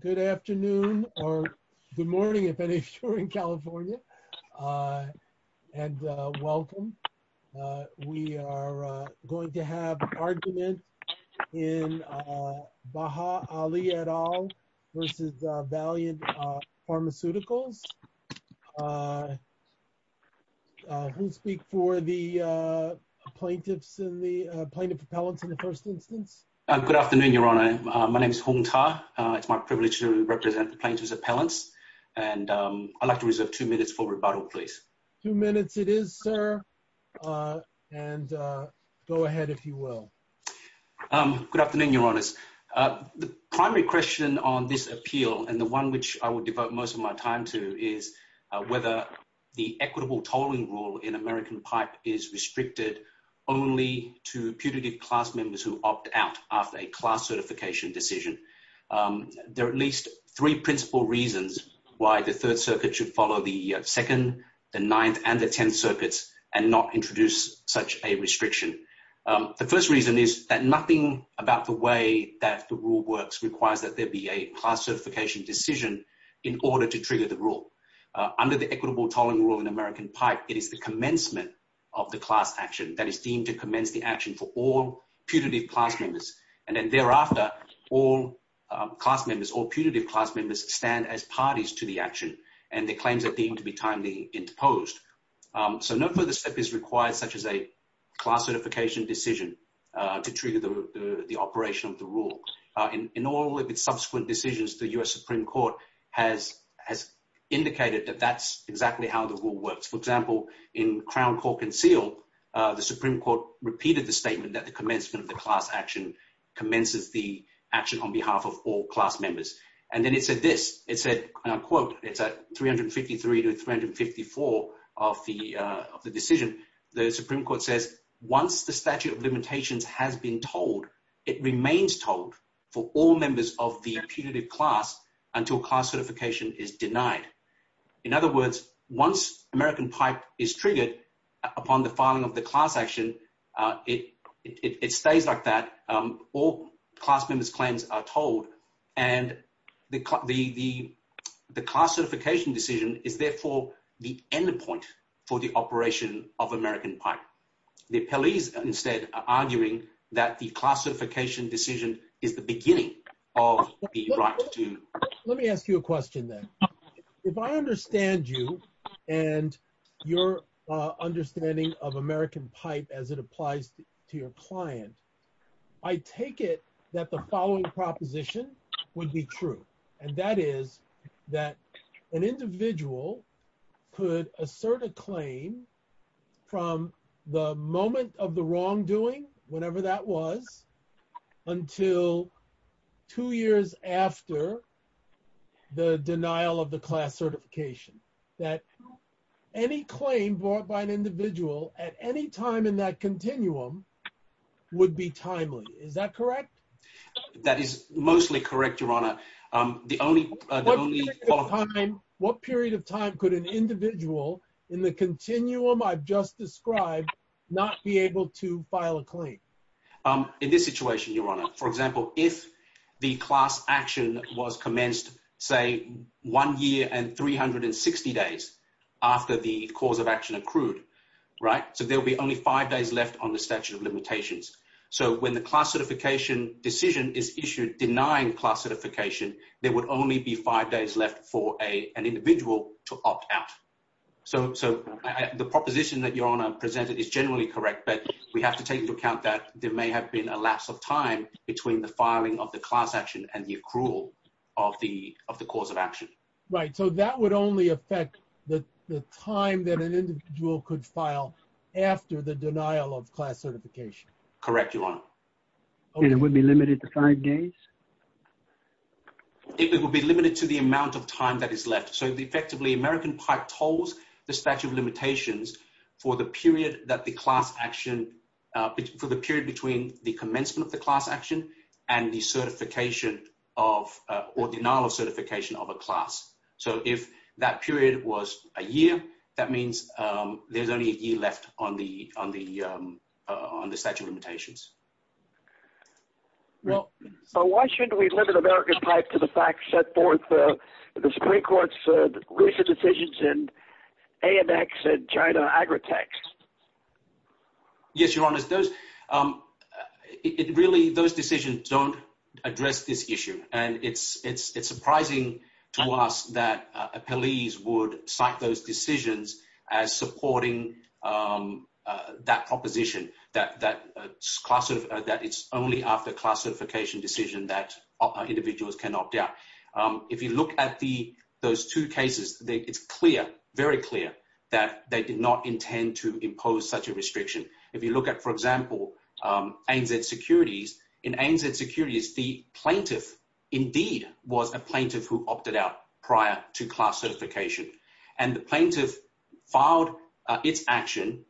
Good afternoon or good morning if any of you are in California and welcome. We are going to have argument in Baha Ali et al versus Valeant Pharmaceuticals. Who will speak for the plaintiffs and the plaintiff appellants in the first instance? Good afternoon, Your Honor. My name is Hung Ta. It's my privilege to represent the plaintiffs appellants and I'd like to reserve two minutes for rebuttal, please. Two minutes it is, sir. And go ahead if you will. Good afternoon, Your Honors. The primary question on this appeal and the one which I would devote most of my time to is whether the equitable tolling rule in American pipe is restricted only to putative class members who opt out after a class certification decision. There are at least three principal reasons why the Third Circuit should follow the Second, the Ninth and the Tenth Circuits and not introduce such a restriction. The first reason is that nothing about the way that the rule works requires that there be a class certification decision in order to trigger the rule. Under the equitable tolling rule in American pipe, it is the commencement of the class action that is deemed to commence the action for all putative class members and then thereafter all class members or putative class members stand as parties to the action and the claims are deemed to be timely imposed. So no further step is required such as a class certification decision to trigger the operation of the rule. In all of its subsequent decisions, the U.S. Supreme Court has indicated that that's exactly how the rule works. For example, in Crown Court Concealed, the Supreme Court repeated the statement that the commencement of the class action commences the action on behalf of all class members. And then it said this, it said, and I quote, it's at 353 to 354 of the decision, the Supreme Court says, once the statute of limitations has been told, it remains told for all members of the putative class until class certification is denied. In other words, once American pipe is triggered upon the filing of the class action, it stays like that. All class members claims are told and the class certification decision is therefore the endpoint for the operation of American pipe. The appellees instead are arguing that the class certification decision is the beginning of the right to. Let me ask you a question then. If I understand you and your understanding of American pipe as it applies to your client, I take it that the following proposition would be true. And that is that an individual could assert a claim from the moment of the wrongdoing, whenever that was, until two years after the denial of the class certification, that any claim brought by an individual at any time in that continuum would be timely. Is that correct? That is mostly correct, your honor. The only- What period of time could an individual in the continuum I've just described, not be able to file a claim? In this situation, your honor, for example, if the class action was commenced, say one year and 360 days after the cause of action accrued, right? So there'll be only five days left on the statute of limitations. So when the class certification decision is issued denying class certification, there would only be five days left for an individual to file a claim. That is generally correct, but we have to take into account that there may have been a lapse of time between the filing of the class action and the accrual of the cause of action. Right. So that would only affect the time that an individual could file after the denial of class certification. Correct, your honor. And it would be limited to five days? It would be limited to the amount of time that is left. So effectively, American Pipe tolls the statute of limitations for the period that the class action- for the period between the commencement of the class action and the certification of- or denial of certification of a class. So if that period was a year, that means there's only a year left on the statute of limitations. Well, so why should we limit American Pipe to the fact set forth in the Supreme Court's recent decisions in AMX and China Agritech? Yes, your honor. Those- it really- those decisions don't address this issue. And it's surprising to us that appellees would cite those decisions as supporting that proposition, that it's only after class certification decision that individuals can opt out. If you look at the- those two cases, it's clear, very clear, that they did not intend to impose such a restriction. If you look at, for example, ANZ Securities, in ANZ Securities, the plaintiff indeed was a plaintiff who opted out prior to class certification. And the plaintiff filed its action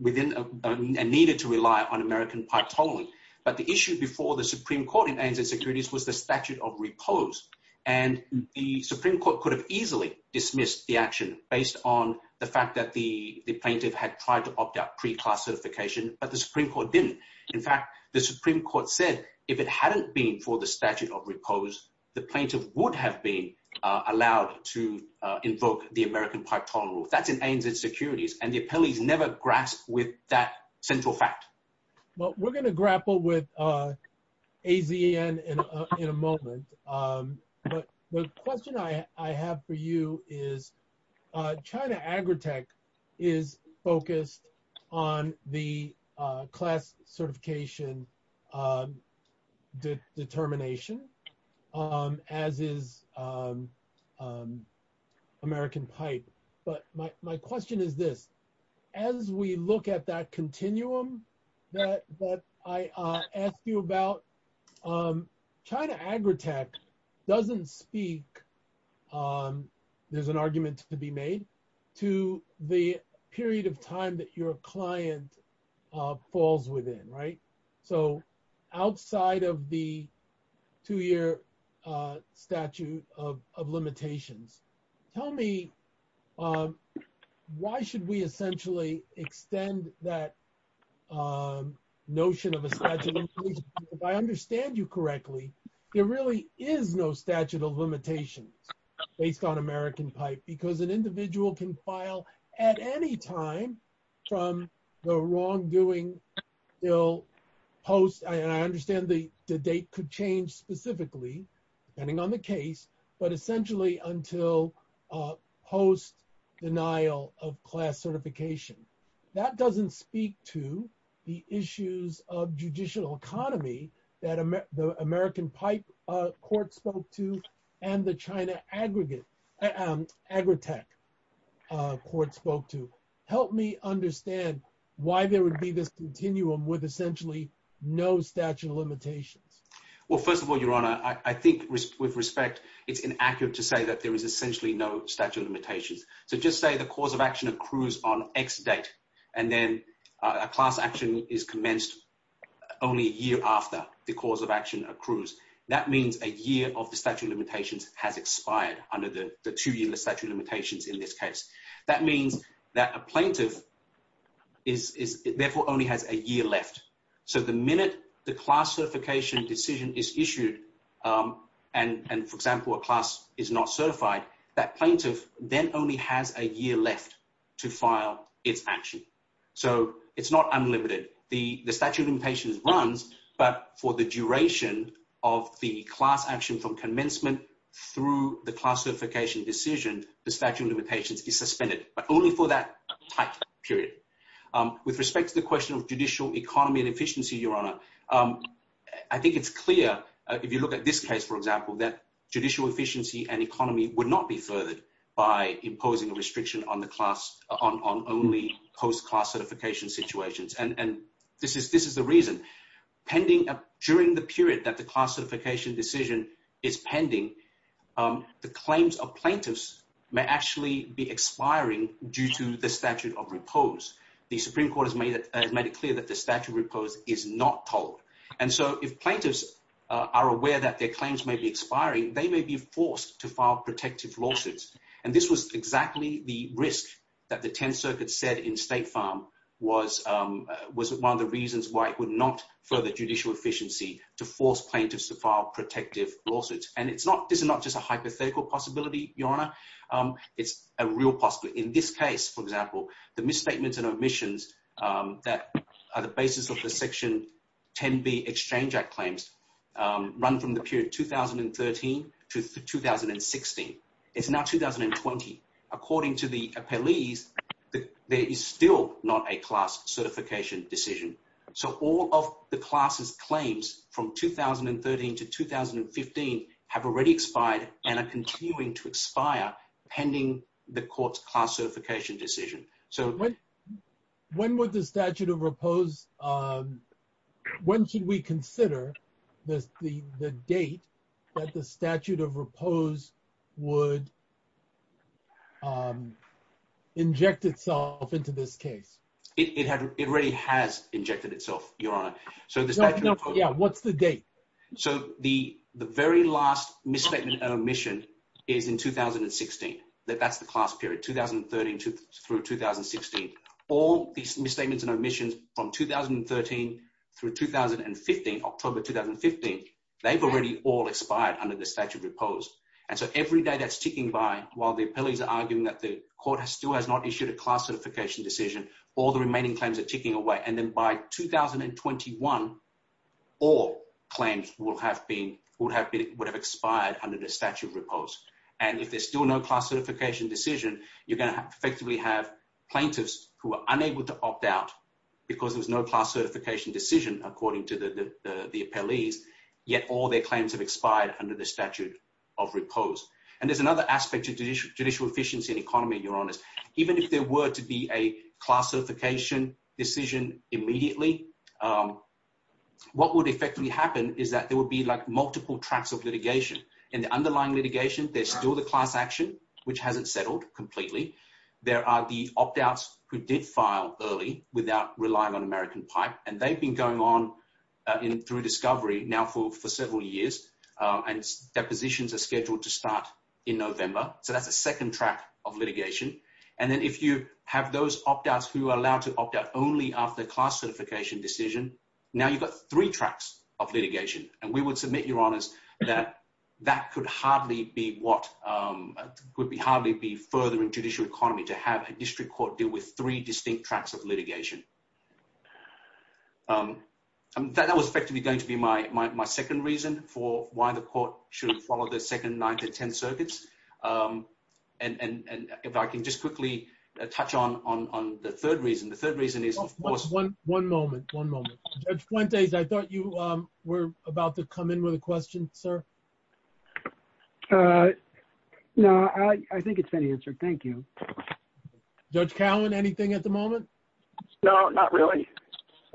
within- and needed to rely on American Pipe tolerance. But the issue before the Supreme Court in ANZ Securities was the statute of repose. And the Supreme Court could have easily dismissed the action based on the fact that the plaintiff had tried to opt out pre-class certification, but the Supreme Court didn't. In fact, the Supreme Court said if it hadn't been for the ANZ Securities, and the appellees never grasped with that central fact. Well, we're going to grapple with AZN in a moment. But the question I have for you is China Agritech is focused on the class certification determination, as is American Pipe. But my question is this, as we look at that continuum that I asked you about, China Agritech doesn't speak, there's an argument to be made, to the period of time that your client falls within, right? So outside of the two-year statute of limitations, tell me, why should we essentially extend that notion of a statute? If I understand you correctly, there really is no statute of limitations based on American Pipe, because an individual can file at any time from the wrongdoing post, and I understand the date could change specifically, depending on the case, but essentially until post-denial of class certification. That doesn't speak to the issues of judicial economy that the American Pipe Court spoke to, and the China Agritech Court spoke to. Help me understand why there would be this continuum with essentially no statute of limitations. Well, first of all, Your Honor, I think with respect, it's inaccurate to say that there is essentially no statute of limitations. So just say the cause of action accrues on X date, and then a class action is commenced only a year after the cause of action accrues. That means a year of the statute of limitations has expired under the two-year statute of limitations in this case. That means that a plaintiff therefore only has a year left. So the minute the class certification decision is issued, and for example, a class is not certified, that plaintiff then only has a year left to file its action. So it's not unlimited. The statute of limitations runs, but for the duration of the class action from commencement through the class certification decision, the statute of limitations is suspended, but only for that type of period. With respect to the question of judicial economy and efficiency, Your Honor, I think it's clear if you look at this case, for example, that judicial efficiency and economy would not be furthered by imposing a restriction on only post-class certification situations. And this is the reason. During the period that the class certification decision is pending, the claims of plaintiffs may actually be expiring due to the statute of repose. The Supreme Court has made it clear that the statute of repose is not told. And so if plaintiffs are aware that their claims may be expiring, they may be forced to file protective lawsuits. And this was exactly the risk that the 10th Circuit said in State Farm was one of the reasons why it would not further judicial efficiency to force plaintiffs to file protective lawsuits. And this is not just a hypothetical possibility, Your Honor. It's a real possibility. In this case, for example, the misstatements and omissions that are the basis of the Section 10b Exchange Act claims run from the period 2013 to 2016. It's now 2020. According to the appellees, there is still not a class certification decision. So all of the class's claims from 2013 to 2015 have already expired and are continuing to expire pending the court's class certification decision. So when would the statute of repose, when should we consider the date that the statute of repose would inject itself into this case? It already has injected itself, Your Honor. So what's the date? So the very last misstatement and omission is in 2016. That's the class period, 2013 through 2016. All these misstatements and omissions from 2013 through 2015, October 2015, they've already all expired under the statute of repose. And so every day that's ticking by, while the appellees are arguing that the court still has not issued a class certification decision, all the remaining claims are ticking away. And then by 2021, all claims would have expired under the statute of repose. And if there's still no class certification decision, you're going to effectively have plaintiffs who are unable to opt out because there's no class certification decision, according to the appellees, yet all their claims have expired under the statute of repose. And there's another aspect to judicial efficiency in economy, Your Honors. Even if there were to be a class certification decision immediately, what would effectively happen is that there would be like multiple tracks of litigation. In the underlying litigation, there's still the class action, which hasn't settled completely. There are the opt-outs who did file early without relying on American Pipe, and they've been going on through discovery now for several years, and depositions are scheduled to start in November. So that's a second track of litigation. And then if you have those opt-outs who are allowed to opt out only after class certification decision, now you've got three tracks of litigation. And we would submit, Your Honors, that that could hardly be further in judicial economy to have a district court deal with three distinct tracks of litigation. That was effectively going to be my second reason for why the court should follow the second nine to 10 circuits. And if I can just quickly touch on the third reason. The third reason is, of course- One moment, one moment. Judge Fuentes, I thought you were about to come in with a question, sir. No, I think it's been answered. Thank you. Judge Cowan, anything at the moment? No, not really.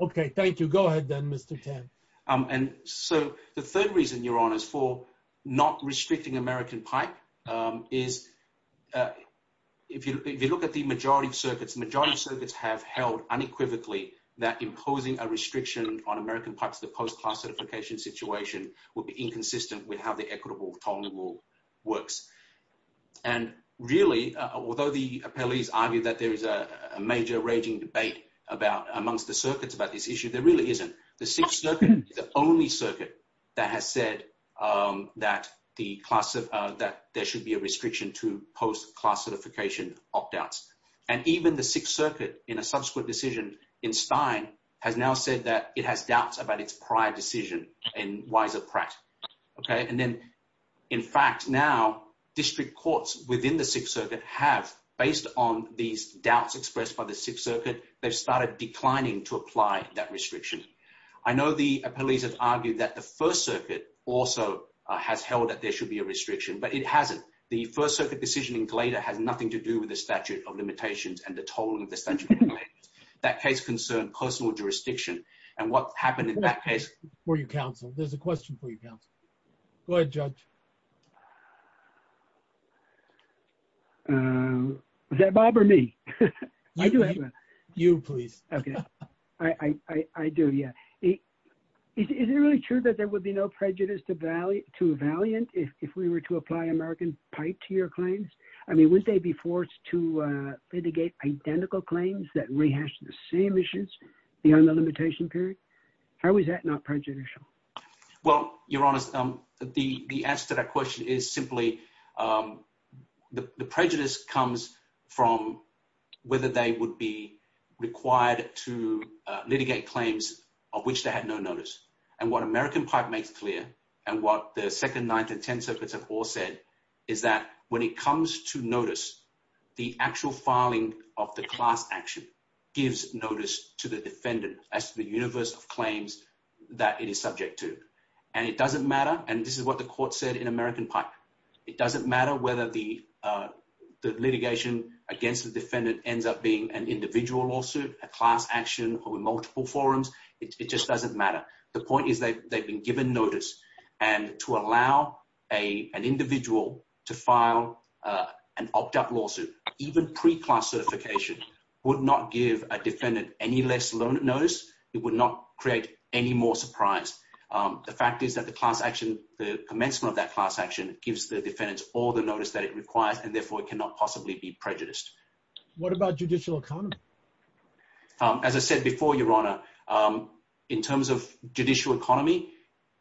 Okay, thank you. Go ahead then, Mr. Tan. And so the third reason, Your Honors, for not restricting American Pipe is if you look at the majority of circuits, the majority of circuits have held unequivocally that imposing a restriction on American Pipe to the post-class certification situation would be inconsistent with how the equitable tolling rule works. And really, although the appellees argue that there is a major raging debate amongst the circuits about this issue, there really isn't. The sixth circuit is the only circuit that has said that there should be a restriction to post-class certification opt-outs. And even the sixth circuit in a subsequent decision in Stein has now said that it has doubts about its prior decision in Weiser Pratt. And then, in fact, now district courts within the sixth circuit have, based on these doubts expressed by the sixth circuit, they've started declining to apply that restriction. I know the appellees have argued that the first circuit also has held that there should be a restriction, but it hasn't. The first circuit decision in Glader has nothing to do with the statute of limitations and the tolling of the statute of limitations. That case concerned personal jurisdiction, and what happened in that case- For your counsel. There's a question for your counsel. Go ahead, Judge. Is that Bob or me? You, please. Okay. I do, yeah. Is it really true that there would be no prejudice to Valiant if we were to I mean, would they be forced to litigate identical claims that rehash the same issues beyond the limitation period? How is that not prejudicial? Well, your Honor, the answer to that question is simply the prejudice comes from whether they would be required to litigate claims of which they had no notice. And what American Pipe makes clear, and what the Second, Ninth, and Tenth Circuits have all said, is that when it comes to notice, the actual filing of the class action gives notice to the defendant as to the universe of claims that it is subject to. And it doesn't matter, and this is what the court said in American Pipe. It doesn't matter whether the litigation against the defendant ends up being an individual lawsuit, a class action, or multiple forums. It just doesn't matter. The point is they've been given notice. And to allow an individual to file an opt-out lawsuit, even pre-class certification, would not give a defendant any less notice. It would not create any more surprise. The fact is that the class action, the commencement of that class action, gives the defendants all the notice that it requires, and therefore it cannot possibly be prejudiced. What about judicial economy? As I said before, Your Honor, in terms of judicial economy,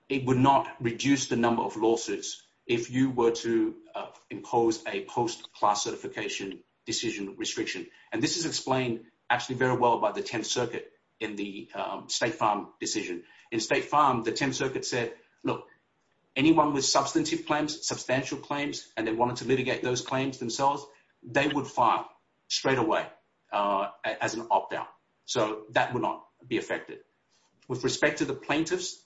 it would not reduce the number of lawsuits if you were to impose a post-class certification decision restriction. And this is explained actually very well by the Tenth Circuit in the State Farm decision. In State Farm, the Tenth Circuit said, look, anyone with substantive claims, substantial claims, and they wanted to file as an opt-out. So that would not be affected. With respect to the plaintiffs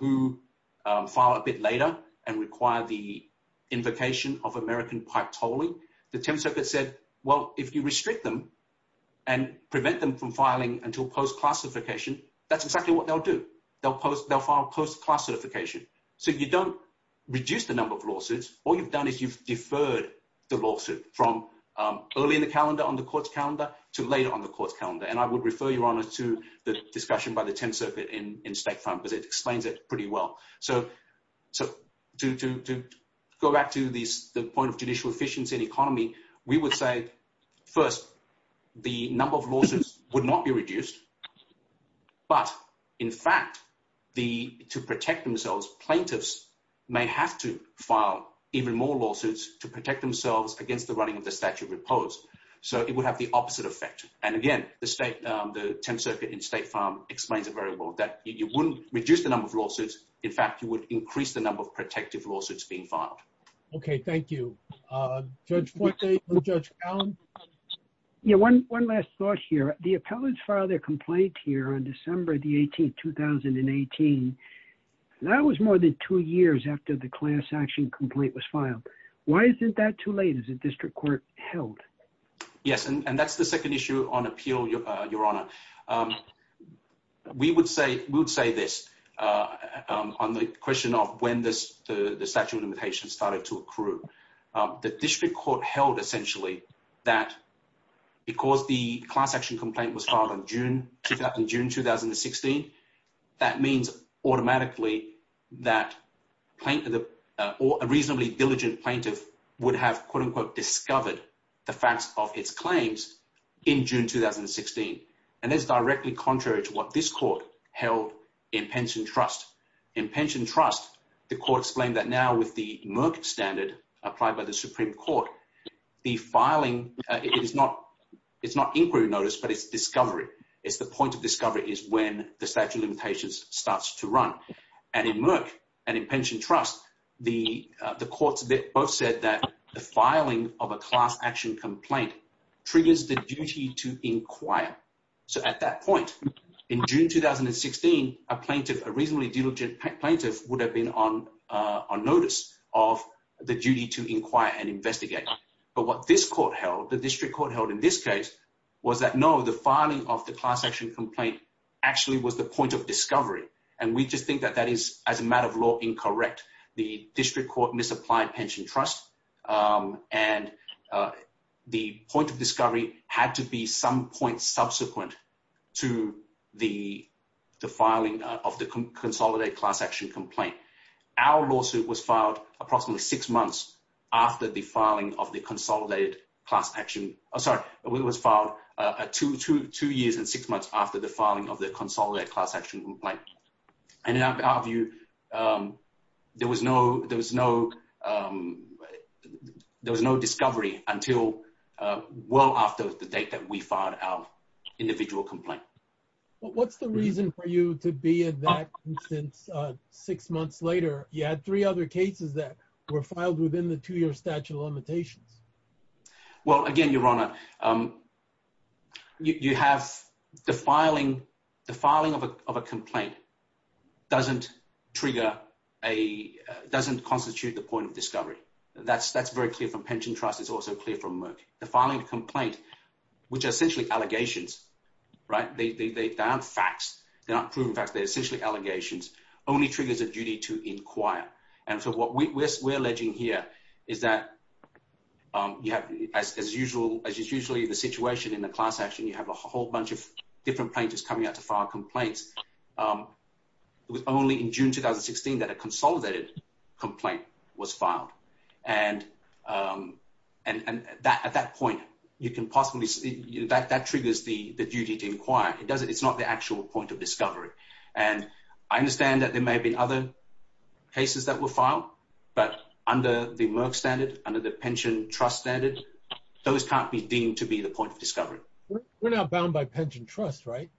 who file a bit later and require the invocation of American Pipe tolling, the Tenth Circuit said, well, if you restrict them and prevent them from filing until post-class certification, that's exactly what they'll do. They'll file post-class certification. So you don't reduce the number of lawsuits. All you've done is you've deferred the lawsuit from early in the calendar on the court's calendar to later on the court's calendar. And I would refer, Your Honor, to the discussion by the Tenth Circuit in State Farm because it explains it pretty well. So to go back to the point of judicial efficiency and economy, we would say, first, the number of lawsuits would not be reduced. But in fact, to protect themselves, plaintiffs may have to file even more lawsuits to protect themselves against the running of the statute reposed. So it would have the opposite effect. And again, the State, the Tenth Circuit in State Farm explains it very well, that you wouldn't reduce the number of lawsuits. In fact, you would increase the number of protective lawsuits being filed. Okay, thank you. Judge Fuente or Judge Allen? Yeah, one last thought here. The appellants filed their complaint here on December the 18th, 2018. That was more than two years after the class action complaint was filed. Why isn't that too late, as the district court held? Yes, and that's the second issue on appeal, Your Honor. We would say this on the question of when the statute of limitations started to accrue. The district court held, essentially, that because the class action complaint was filed in June, 2016, that means automatically that a reasonably diligent plaintiff would have, quote unquote, discovered the facts of its claims in June, 2016. And that's directly contrary to what this court held in Pension Trust. In Pension Trust, the court explained that now with the Merck standard applied by the Supreme Court, the filing, it's not inquiry notice, but it's the point of discovery is when the statute of limitations starts to run. And in Merck and in Pension Trust, the courts both said that the filing of a class action complaint triggers the duty to inquire. So at that point, in June, 2016, a plaintiff, a reasonably diligent plaintiff, would have been on notice of the duty to inquire and investigate. But what this court held, the district court held in this case, was that no, the filing of the class action complaint actually was the point of discovery. And we just think that that is, as a matter of law, incorrect. The district court misapplied Pension Trust. And the point of discovery had to be some point subsequent to the filing of the consolidated class action complaint. Our lawsuit was filed approximately six months after the filing of the consolidated class action. I'm sorry, it was filed two years and six months after the filing of the consolidated class action complaint. And in our view, there was no discovery until well after the date that we filed our individual complaint. What's the reason for you to be in that instance six months later? You had three other cases that were filed within the two-year statute of limitations. Well, again, Your Honor, you have the filing of a complaint doesn't constitute the point of discovery. That's very clear from Pension Trust. It's also clear from Merck. The filing of a complaint, which are essentially allegations, right? They aren't facts. They're not proven facts. They're essentially allegations. It only triggers a duty to inquire. And so what we're alleging here is that, as is usually the situation in the class action, you have a whole bunch of different plaintiffs coming out to file complaints. It was only in June 2016 that a consolidated complaint was filed. And at that point, that triggers the duty to inquire. It's not the point of discovery. And I understand that there may have been other cases that were filed, but under the Merck standard, under the Pension Trust standard, those can't be deemed to be the point of discovery. We're now bound by Pension Trust, right?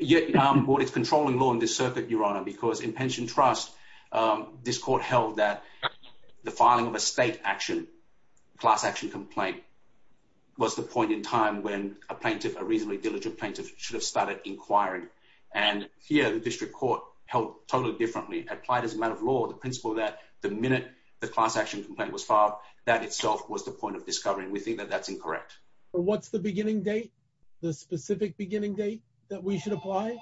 Yeah, but it's controlling law in this circuit, Your Honor, because in Pension Trust, this court held that the filing of a state action, class action complaint, was the point in time when a plaintiff, a reasonably diligent plaintiff, should have started inquiring. And here, the district court held totally differently, applied as a matter of law, the principle that the minute the class action complaint was filed, that itself was the point of discovery. And we think that that's incorrect. But what's the beginning date? The specific beginning date that we should apply?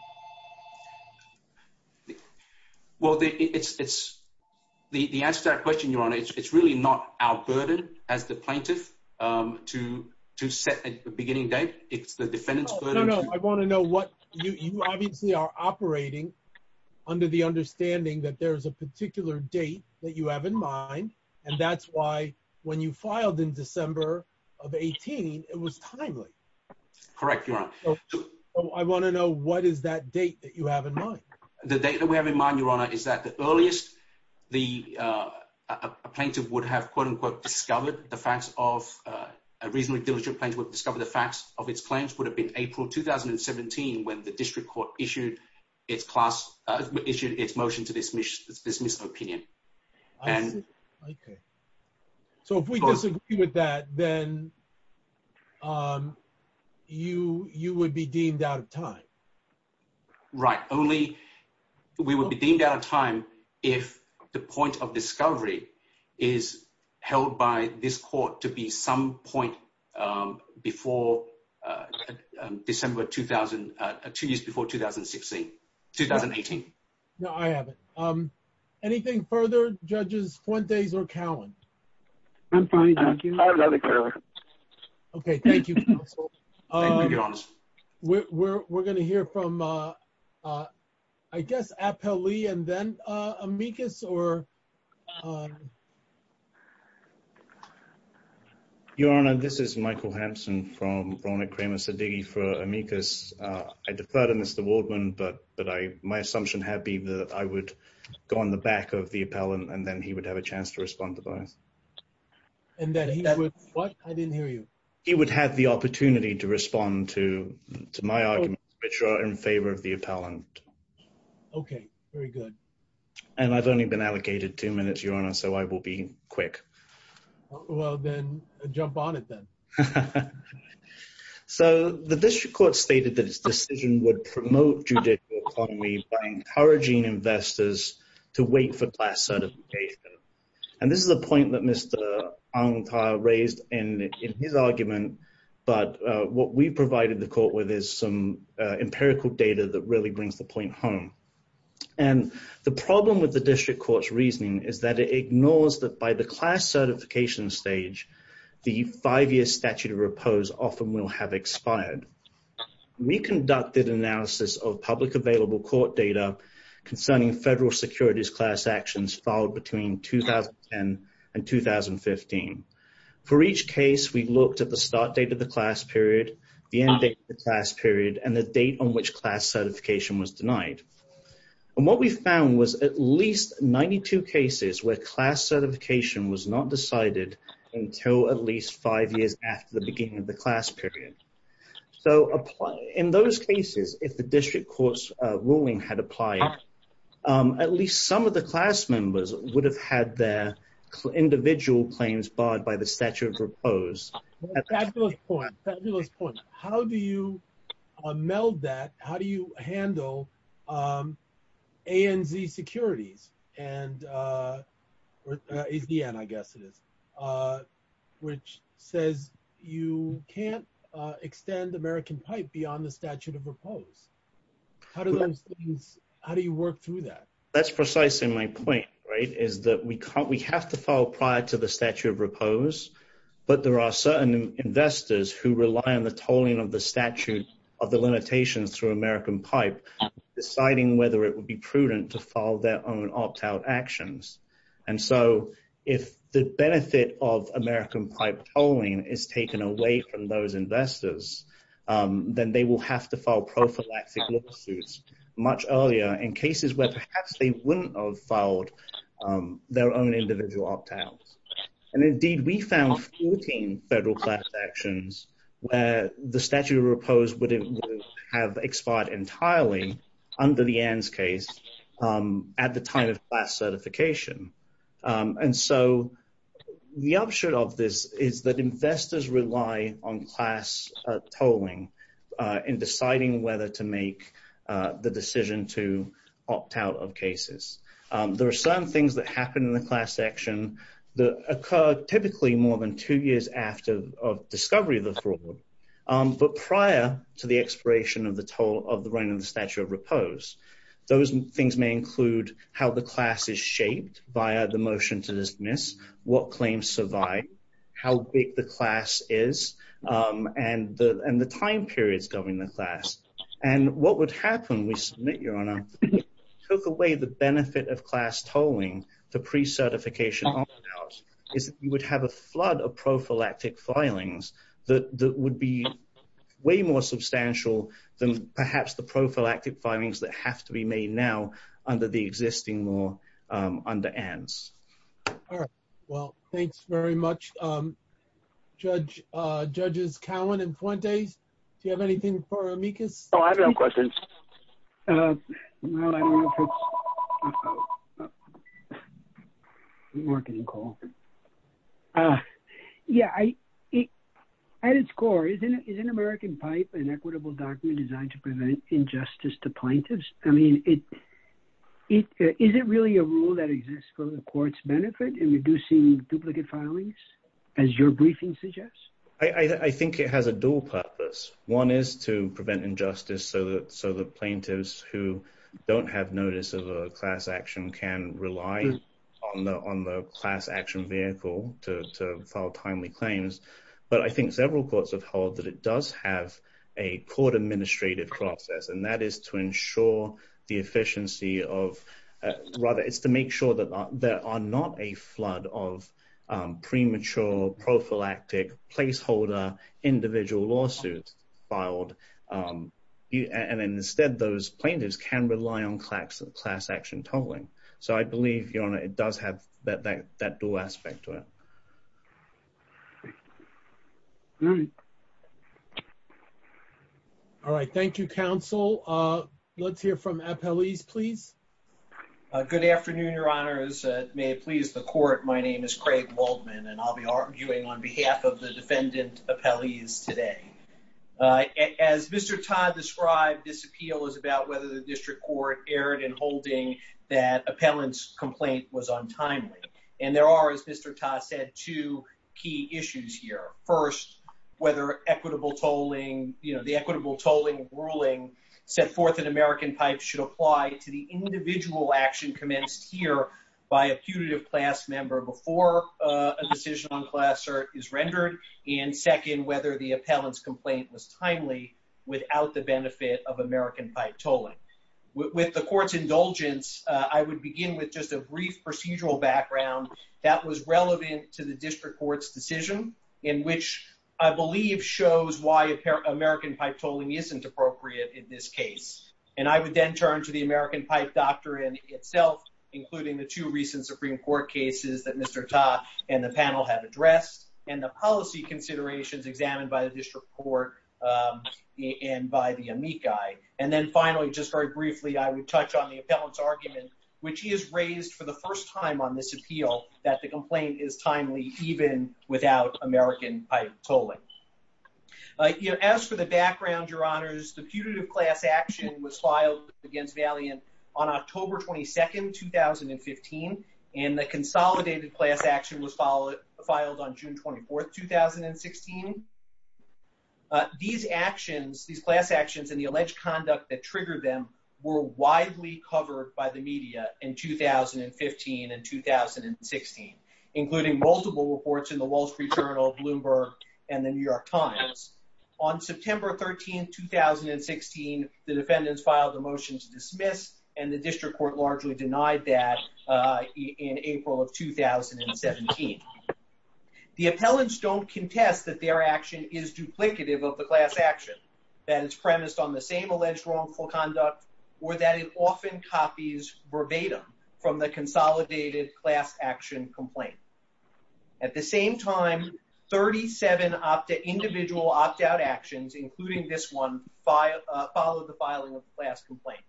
Well, the answer to that question, Your Honor, it's really not our burden as the plaintiff to set a beginning date. It's the defendant's burden. No, no, no. I want to know what... You obviously are operating under the understanding that there is a particular date that you have in mind, and that's why when you filed in December of 18, it was timely. Correct, Your Honor. I want to know what is that date that you have in mind? The date that we have in mind, Your Honor, is that the earliest the plaintiff would have, quote unquote, discovered the facts of... A reasonably diligent plaintiff would have discovered the facts of its claims would have been April 2017, when the district court issued its motion to dismiss opinion. Okay. So if we disagree with that, then you would be deemed out of time? Right. Only we would be deemed out of time if the point of discovery is held by this court to be some point before December 2000, two years before 2016, 2018. No, I haven't. Anything further, Judges Fuentes or Cowan? I'm fine, thank you. I have nothing further. Okay. Thank you, counsel. I think we can get on this. We're going to hear from, I guess, Appellee and then Amicus, or... Your Honor, this is Michael Hampson from Ronit Kramer-Sedighi for Amicus. I defer to Mr. Waldman, but my assumption had been that I would go on the back of the appellant, and then he would have a chance to respond to both. And that he would... What? I didn't hear you. He would have the opportunity to respond to my argument, which are in favor of the appellant. Okay. Very good. And I've only been allocated two minutes, Your Honor, so I will be quick. Well, then jump on it then. So the district court stated that its decision would promote judicial autonomy by encouraging investors to wait for class certification. And this is a point that Mr. Ang Tha raised in his argument, but what we provided the court with is some empirical data that really brings the point home. And the problem with the district court's reasoning is that it ignores that by the class certification stage, the five-year statute of repose often will have expired. We conducted analysis of public available court data concerning federal securities class actions filed between 2010 and 2015. For each case, we looked at the start date of the class period, the end date of the class period, and the date on which class certification was denied. And what we found was at least 92 cases where class certification was not decided until at least five years after the beginning of the class period. So in those cases, if the district court's ruling had applied, at least some of the class members would have had their individual claims barred by the statute of repose. Fabulous point. Fabulous point. How do you meld that? How do you handle ANZ Securities, or ANZ, I guess it is, which says you can't extend American pipe beyond the statute of repose? How do you work through that? That's precisely my point, right, is that we have to file prior to the statute of repose, but there are certain investors who rely on the tolling of the statute of the limitations through American pipe, deciding whether it would be prudent to file their own opt-out actions. And so if the benefit of American pipe tolling is taken away from those investors, then they will have to file prophylactic lawsuits much earlier in cases where perhaps they wouldn't have filed their own individual opt-outs. And indeed, we found 14 federal class actions where the statute of repose would have expired entirely under the ANZ case at the time of class certification. And so the upshot of this is that investors rely on class tolling in deciding whether to make the decision to opt out of cases. There are certain things that happen in the class action that occur typically more than two years after of discovery of the Those things may include how the class is shaped via the motion to dismiss, what claims survive, how big the class is, and the time periods during the class. And what would happen, we submit, Your Honor, took away the benefit of class tolling the pre-certification opt-out is that you would have a flood of prophylactic filings that would be way more substantial than perhaps the prophylactic filings that have to be made now under the existing law under ANZ. All right. Well, thanks very much. Judges Cowan and Fuentes, do you have anything for Amicus? Oh, I have no questions. Yeah, at its core, is an American pipe an equitable document designed to prevent injustice to plaintiffs? I mean, is it really a rule that exists for the court's benefit in reducing duplicate filings, as your briefing suggests? I think it has a dual purpose. One is to prevent injustice so that plaintiffs who don't have notice of a class action can rely on the class action vehicle to file timely claims. But I think several courts have held that it does have a court-administrated process, and that is to ensure the efficiency of, rather, it's to make sure that there are not a flood of premature prophylactic placeholder individual lawsuits filed. And instead, those plaintiffs can rely on class action tolling. So I believe, Your Honor, it does have that dual aspect to it. All right. Thank you, Counsel. Let's hear from appellees, please. Good afternoon, Your Honors. May it please the court, my name is Craig Waldman, and I'll be arguing on behalf of the defendant appellees today. As Mr. Ta described, this appeal is about whether the district court erred in holding that appellant's complaint was untimely. And there are, as Mr. Ta said, two key issues here. First, whether the equitable tolling ruling set forth in American Pipe should apply to the individual action commenced here by a putative class member before a decision on class cert is rendered. And second, whether the appellant's complaint was timely without the benefit of American Pipe tolling. With the court's indulgence, I would begin with just a brief procedural background that was relevant to the district court's decision, in which I believe shows why American Pipe tolling isn't appropriate in this case. And I would then turn to the American Pipe doctrine itself, including the two recent Supreme Court cases that Mr. Ta and the panel have addressed, and the policy considerations examined by the district court and by the amici. And then finally, just very briefly, I would touch on the appellant's argument, which he has raised for the first time on this appeal, that the complaint is timely, even without American Pipe tolling. As for the background, Your Honors, the putative class action was filed against Valiant on October 22, 2015, and the consolidated class action was filed on June 24, 2016. These actions, these class actions and the alleged conduct that triggered them were widely covered by the media in 2015 and 2016, including multiple reports in the Wall Street Journal, Bloomberg, and the New York Times. On September 13, 2016, the defendants filed a motion to dismiss, and the district court largely denied that in April of 2017. The appellants don't contest that their action is duplicative of the class action, that it's premised on the same alleged wrongful conduct, or that it often copies verbatim from the consolidated class action complaint. At the same time, 37 individual opt-out actions, including this one, followed the filing of the class complaint.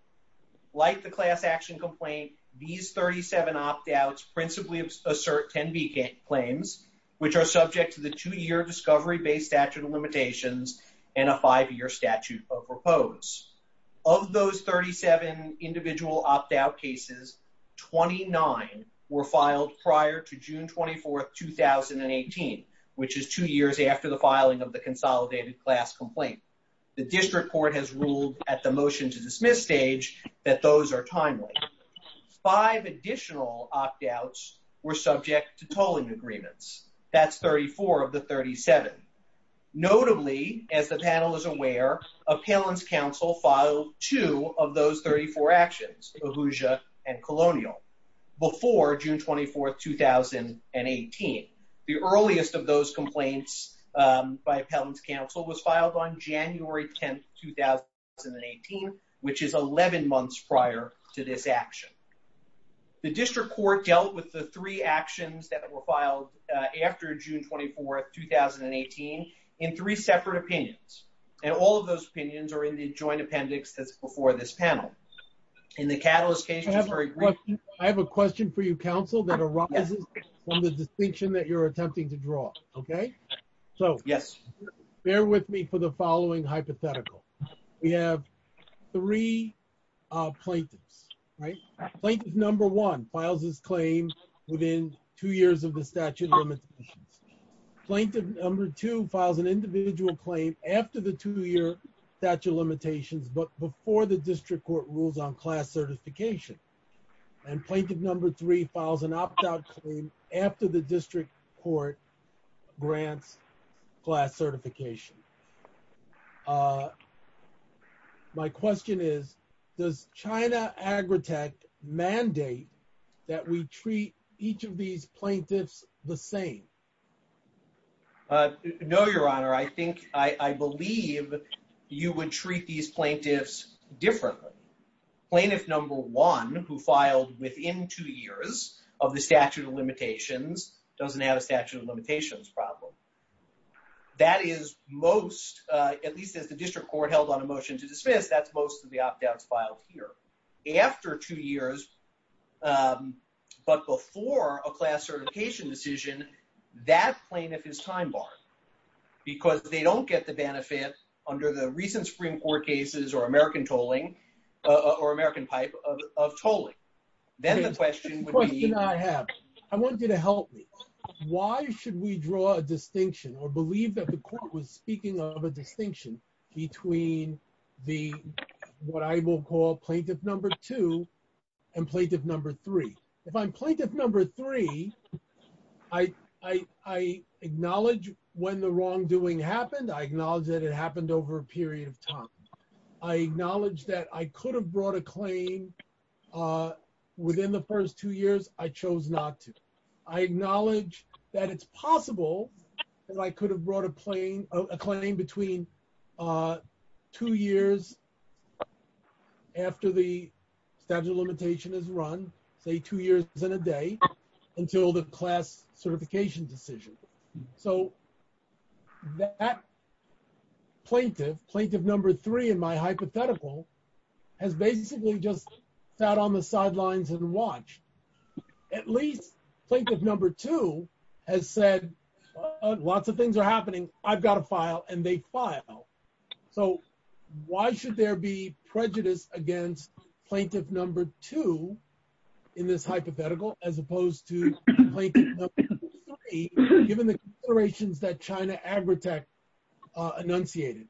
Like the class action complaint, these 37 opt-outs principally assert 10B claims, which are subject to the two-year discovery-based statute of limitations and a five-year statute of repose. Of those 37 individual opt-out cases, 29 were filed prior to June 24, 2018, which is two years after the filing of the consolidated class complaint. The district court has ruled at the motion to dismiss stage that those are timely. Five additional opt-outs were subject to tolling agreements. That's 34 of the 37. Notably, as the panel is aware, Appellants Council filed two of those 34 actions, Ahuja and Colonial, before June 24, 2018. The earliest of those complaints by Appellants Council was filed on January 10, 2018, which is 11 months prior to this action. The district court dealt with the three actions that were filed after June 24, 2018, in three separate opinions, and all of those opinions are in the joint appendix that's before this panel. In the Catalyst case... I have a question for you, counsel, that arises from the distinction that you're attempting to draw, okay? So, bear with me for the following hypothetical. We have three plaintiffs, right? Plaintiff number one files his claim within two years of the statute of limitations. Plaintiff number two files an individual claim after the two-year statute of limitations, but before the district court rules on class certification. And plaintiff number three files an opt-out claim after the district court grants class certification. My question is, does China Agritech mandate that we treat each of these plaintiffs the same? No, your honor. I think, I believe you would treat these plaintiffs differently. Plaintiff number one, who filed within two years of the statute of limitations, doesn't have a statute of limitations problem. That is most, at least as the district court held on a motion to dismiss, that's most of the opt-outs filed here. After two years, but before a class certification decision, that plaintiff is time-barred because they don't get the benefit under the recent Supreme Court cases or American tolling, or American pipe of tolling. Then the question would be. I have, I want you to help me. Why should we draw a distinction or believe that the court was speaking of a distinction between the, what I will call plaintiff number two and plaintiff number three. If I'm plaintiff number three, I, I, I acknowledge when the wrongdoing happened. I acknowledge that it happened over a period of time. I acknowledge that I could have brought a claim within the first two years. I chose not to. I acknowledge that it's possible that I could have brought a plane, a claim between two years after the statute of limitation is run, say two years in a day until the class certification decision. So that plaintiff, plaintiff number three in my hypothetical has basically just sat on the sidelines and watched at least plaintiff number two has said, lots of things are happening. I've got a file and they file. So why should there be prejudice against plaintiff number two in this hypothetical, as opposed to given the iterations that China agri-tech enunciated.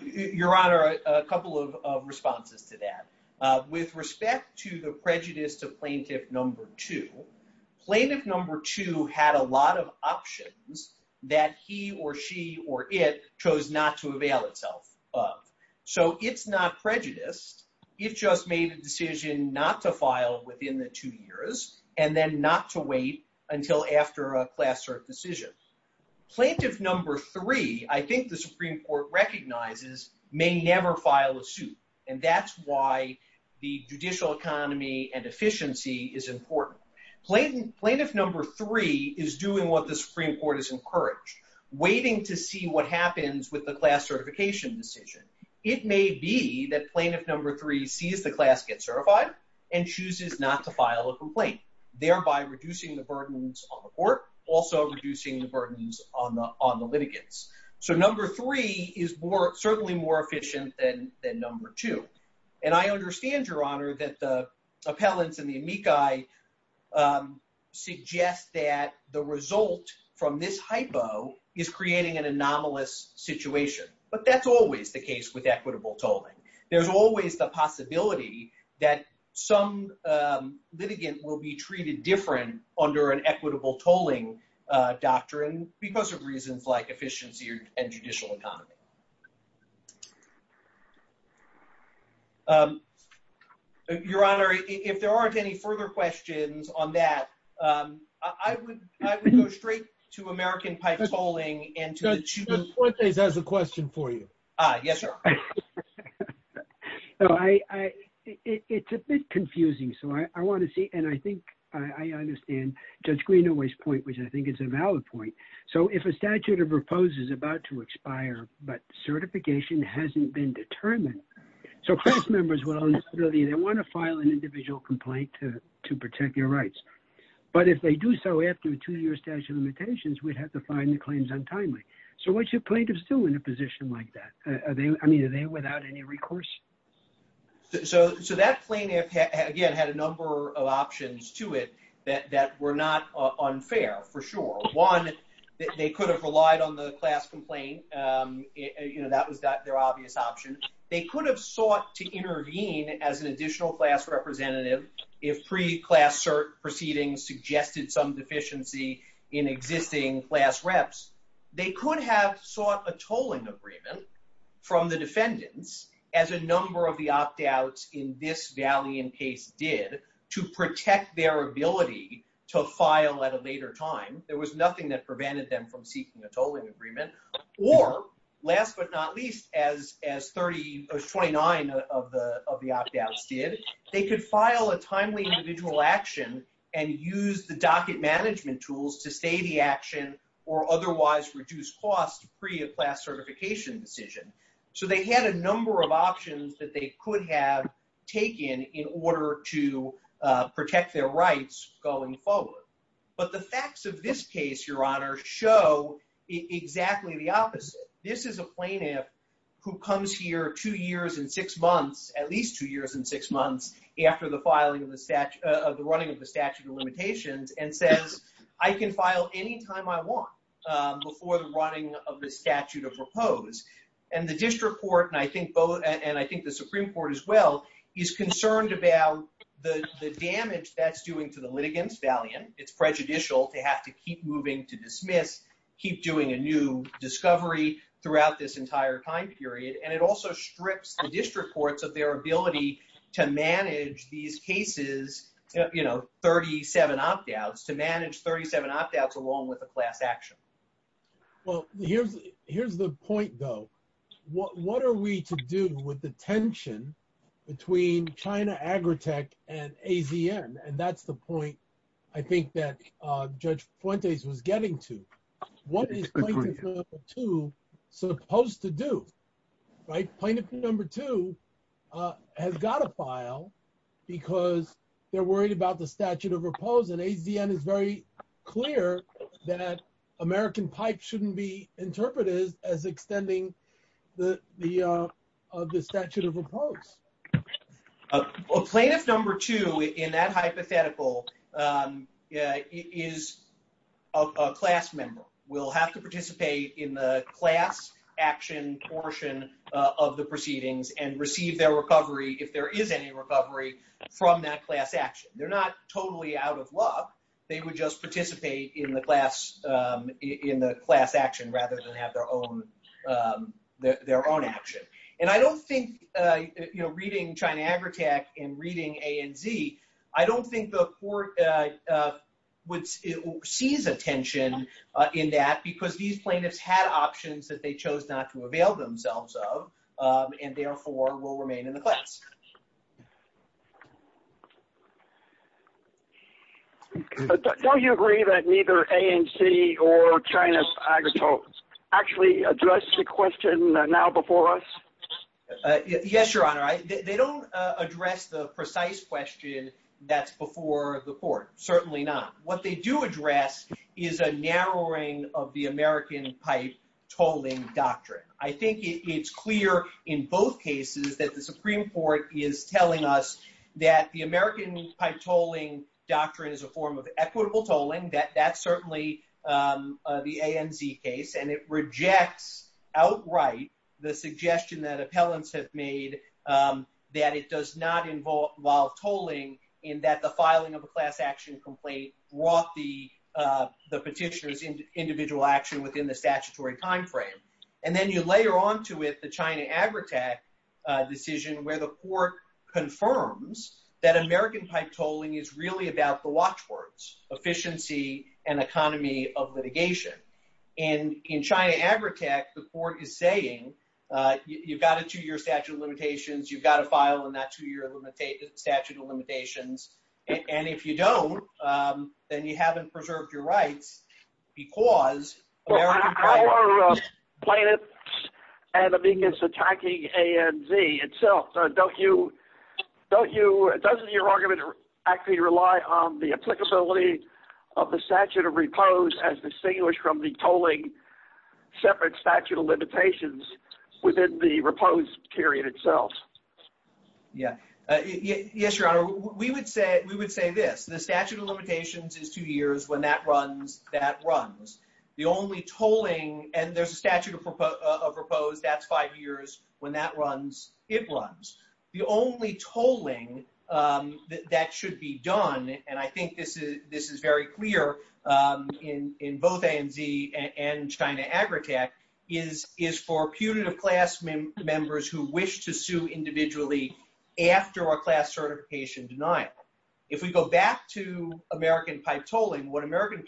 Your honor, a couple of responses to that with respect to the prejudice to plaintiff number two, plaintiff number two had a lot of options that he or she, or it chose not to avail itself. So it's not prejudiced. It just made a decision not to file within the two years and then not to wait until after a class cert decision. Plaintiff number three, I think the Supreme court recognizes may never file a suit. And that's why the judicial economy and efficiency is important. Plaintiff number three is doing what the Supreme court is encouraged waiting to see what happens with the class certification decision. It may be that plaintiff number three sees the class gets certified and chooses not to file a complaint, thereby reducing the burdens on the court, also reducing the burdens on the, on the litigants. So number three is more certainly more efficient than, than number two. And I understand your honor that the result from this hypo is creating an anomalous situation, but that's always the case with equitable tolling. There's always the possibility that some litigant will be treated different under an equitable tolling doctrine because of reasons like efficiency and judicial economy. Um, your honor, if there aren't any further questions on that, um, I would, I would go straight to American pipe tolling and to the question for you. Ah, yes, sir. No, I, I, it's a bit confusing. So I want to see, and I think I understand judge Greenaway's point, which I think is a valid point. So if a statute of repose is about to expire, but certification hasn't been determined, so class members will necessarily, they want to file an individual complaint to, to protect your rights. But if they do so after a two year statute of limitations, we'd have to find the claims untimely. So what's your plaintiffs do in a position like that? Are they, I mean, are they without any recourse? So, so that plaintiff again, had a number of for sure. One, they could have relied on the class complaint. Um, you know, that was their obvious option. They could have sought to intervene as an additional class representative. If pre class cert proceedings suggested some deficiency in existing class reps, they could have sought a tolling agreement from the defendants as a number of the opt outs in this valiant case did to protect their ability to file at a later time. There was nothing that prevented them from seeking a tolling agreement or last but not least, as, as 30 or 29 of the, of the opt outs did, they could file a timely individual action and use the docket management tools to stay the action or otherwise reduce costs pre a class certification decision. So they had a number of options that they could have taken in order to, uh, protect their rights going forward. But the facts of this case, your honor show exactly the opposite. This is a plaintiff who comes here two years and six months, at least two years and six months after the filing of the statute of the running of the statute of limitations and says, I can file anytime I want, um, before the running of the statute of propose and the district court. And I think both, and I think the Supreme court as well is concerned about the damage that's doing to the litigants valiant. It's prejudicial to have to keep moving to dismiss, keep doing a new discovery throughout this entire time period. And it also strips the district courts of their ability to manage these cases, you know, 37 opt outs to manage 37 opt outs along with the class action. Well, here's, here's the point though. What, what are we to do with the tension between China agritech and AZN? And that's the point I think that, uh, judge Fuentes was getting What is plaintiff number two supposed to do, right? Plaintiff number two, uh, has got a file because they're worried about the statute of repose and AZN is very clear that American pipe shouldn't be interpreted as extending the, the, uh, of the statute of repose. A plaintiff number two in that hypothetical, um, uh, is a class member will have to participate in the class action portion of the proceedings and receive their recovery. If there is any recovery from that class action, they're not totally out of luck. They would just participate in the class, um, in the class action rather than have their own, um, their, their own action. And I don't think, uh, you know, reading China agritech and reading A and Z, I don't think the court, uh, uh, would seize attention, uh, in that because these plaintiffs had options that they chose not to avail themselves of, um, and therefore will remain in the class. Don't you agree that neither A and C or China agritech actually addressed the question now before us? Uh, yes, your honor. I, they don't, uh, address the precise question that's before the court. Certainly not. What they do address is a narrowing of the American pipe tolling doctrine. I think it's clear in both cases that the Supreme court is telling us that the American pipe tolling doctrine is a form of equitable tolling that that's certainly, um, uh, the A and Z case, and it rejects outright the suggestion that appellants have made, um, that it does not involve tolling in that the filing of a class action complaint brought the, uh, the petitioner's individual action within the statutory timeframe. And then you layer onto it, the China agritech, uh, decision where the court confirms that American pipe tolling is really about the watchwords, efficiency, and economy of litigation. And in China agritech, the court is saying, uh, you've got a two-year statute of limitations. You've got to file in that two-year limitate statute of limitations. And if you don't, um, then you haven't preserved your rights because American pipe tolling. Well, how are, uh, plaintiffs and amigas attacking A and Z itself? Uh, don't you, don't you, doesn't your argument actually rely on the applicability of the statute of repose as distinguished from the tolling separate statute of limitations within the repose period itself? Yeah. Uh, yes, your honor. We would say, we would say this, the statute of limitations is two years when that runs, that runs the only tolling. And there's a statute of proposed that's five years when that runs, it runs the only tolling, um, that, that should be done. And I think this is, this is very clear, um, in, in both A and Z and China agritech is, is for punitive class members who wish to sue individually after our class certification denied. If we go back to American pipe tolling, what American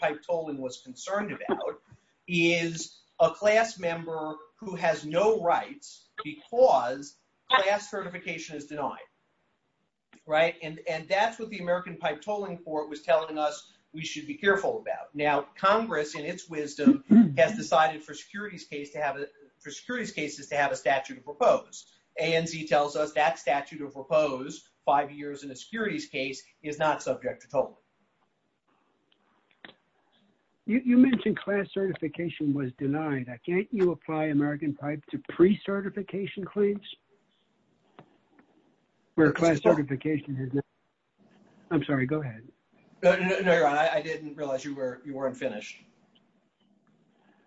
is a class member who has no rights because class certification is denied. Right. And, and that's what the American pipe tolling court was telling us. We should be careful about now Congress in its wisdom has decided for securities case to have a for securities cases to have a statute of repose. And he tells us that statute of repose five years in a securities case is not subject to total. You mentioned class certification was denied. I can't, you apply American pipe to pre-certification claims where class certification. I'm sorry. Go ahead. I didn't realize you were, you weren't finished.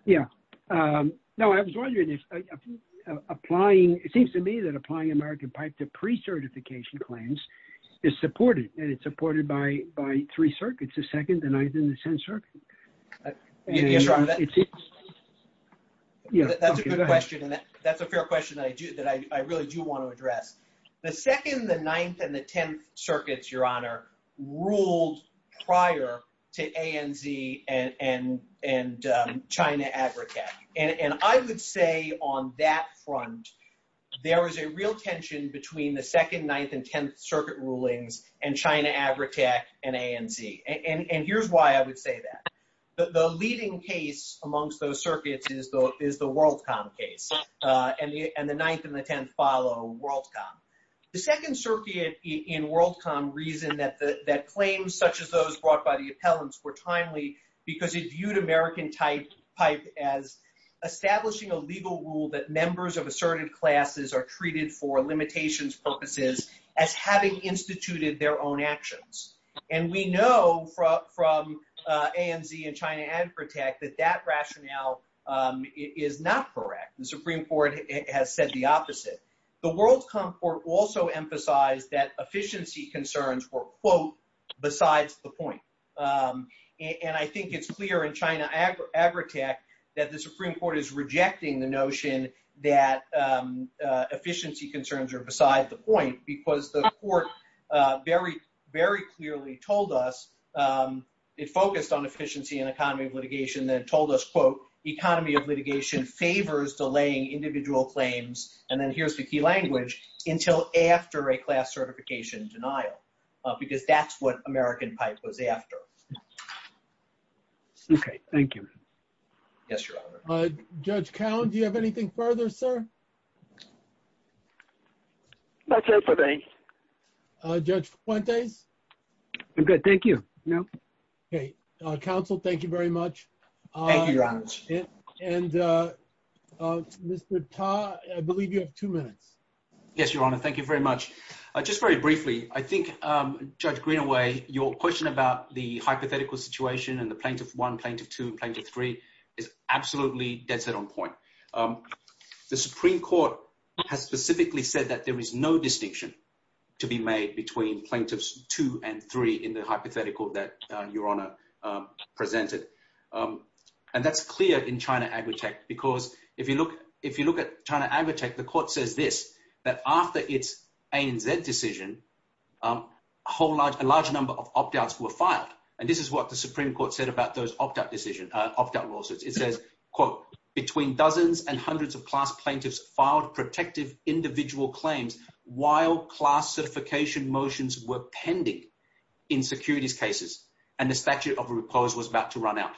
Yeah. Um, no, I was wondering if applying, it seems to me that applying American pipe to pre-certification claims is supported and it's supported by, by class certification. The second, the ninth and the 10th circuits, your honor ruled prior to ANZ and, and, and, um, China agritech. And I would say on that front, there was a real tension between the second, ninth and 10th circuit rulings and China agritech and ANZ. And here's why I would say that the leading case amongst those circuits is the, is the WorldCom case. Uh, and the, and the ninth and the 10th follow WorldCom. The second circuit in WorldCom reason that the, that claims such as those brought by the appellants were timely because it viewed American pipe as establishing a legal rule that members of asserted classes are treated for limitations purposes as having instituted their own actions. And we know from, from, uh, ANZ and China agritech that that rationale, um, is not correct. The Supreme court has said the opposite. The WorldCom court also emphasized that efficiency concerns were quote besides the point. Um, and I think it's clear in China agritech that the Supreme court is rejecting the notion that, um, uh, efficiency concerns are beside the point because the court, uh, very, very clearly told us, um, it focused on efficiency and economy of litigation that told us quote, economy of litigation favors delaying individual claims. And then here's the key language until after a class certification denial, uh, because that's what American pipe was after. Okay. Thank you. Yes, your honor. Uh, judge count. Do you have anything further, sir? Uh, judge one days. I'm good. Thank you. No. Okay. Uh, council. Thank you very much. And, uh, uh, Mr. Todd, I believe you have two minutes. Yes, your honor. Thank you very much. Uh, just very briefly, I think, um, judge green away your question about the hypothetical situation and the plaintiff one plaintiff to plaintiff three is absolutely dead set on point. Um, the Supreme court has specifically said that there is no distinction to be made between plaintiffs two and three in the hypothetical that, uh, your honor, um, presented. Um, and that's clear in China agritech because if you look, if you look at China agritech, the court says this, that after it's a and Z decision, um, whole large, a large number of opt-outs were filed. And this is what the Supreme court said about those opt-out decision, uh, opt-out lawsuits. It says quote between dozens and hundreds of class plaintiffs filed protective individual claims while class certification motions were pending in securities cases. And the statute of repose was about to run out.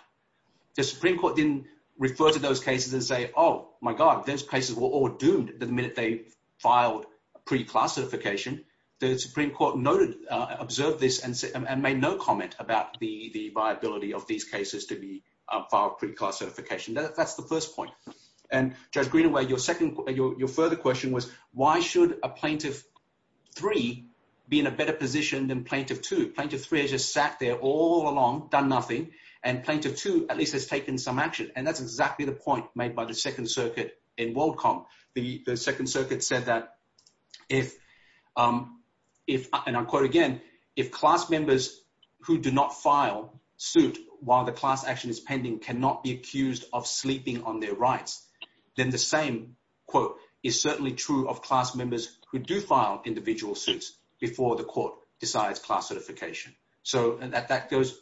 The Supreme court didn't refer to those cases and say, Oh my God, those places were all doomed. The minute they filed pre-class certification, the Supreme court noted, uh, observed this and said, and made no comment about the, the viability of these cases to be filed pre-class certification. That's the first point. And judge Greenaway, your second, your, your further question was why should a plaintiff three be in a better position than plaintiff to plaintiff three has just sat there all along done nothing. And plaintiff two, at least has taken some action. And that's exactly the point made by the second circuit in WorldCom. The second circuit said that if, um, if, and I'll quote again, if class members who do not file suit while the class action is pending, cannot be accused of sleeping on their rights, then the same quote is certainly true of class members who do file individual suits before the court decides class certification. So at that goes.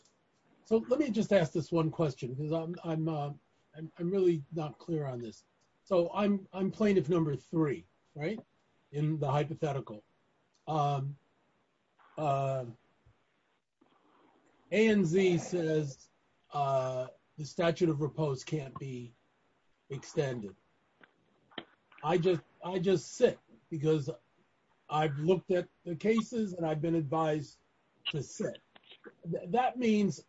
So let me just ask this one question because I'm, I'm, uh, I'm, I'm really not clear on this. So I'm, I'm plaintiff number three, right. In the hypothetical, um, uh, ANZ says, uh, the statute of repose can't be extended. I just, I just sit because I've looked at the cases and I've been advised to sit. That means,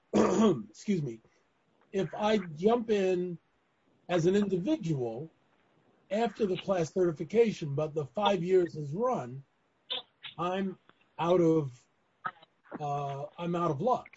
excuse me, if I jump in as an individual after the class certification, but the five years has run, I'm out of, uh, I'm out of luck.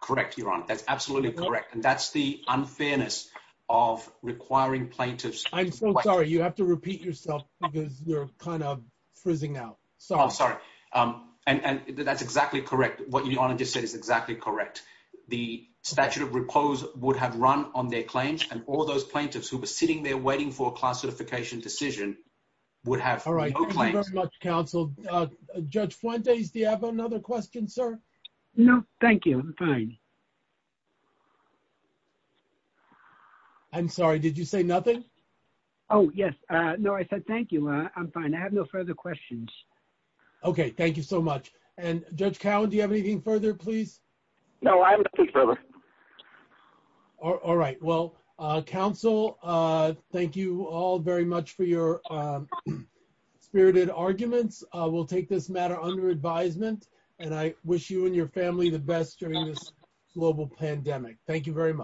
Correct. You're on it. That's absolutely correct. And that's the unfairness of requiring plaintiffs. I'm so sorry. You have to repeat yourself because you're kind of frizzing out. Sorry. I'm sorry. Um, and, and that's exactly correct. What you want to just say is exactly correct. The statute of repose would have run on their claims and all those plaintiffs who were sitting there waiting for a class certification decision would have all right. Thank you very much counsel. Judge Fuentes. Do you have another question, sir? No, thank you. I'm fine. I'm sorry. Did you say nothing? Oh yes. Uh, no, I said, thank you. I'm fine. I have no further questions. Okay. Thank you so much. And judge Cowan, do you have anything further please? No, I have nothing further. All right. Well, uh, counsel, uh, thank you all very much for your, um, spirited arguments. Uh, we'll take this matter under advisement and I wish you and your family the best during this global pandemic. Thank you very much.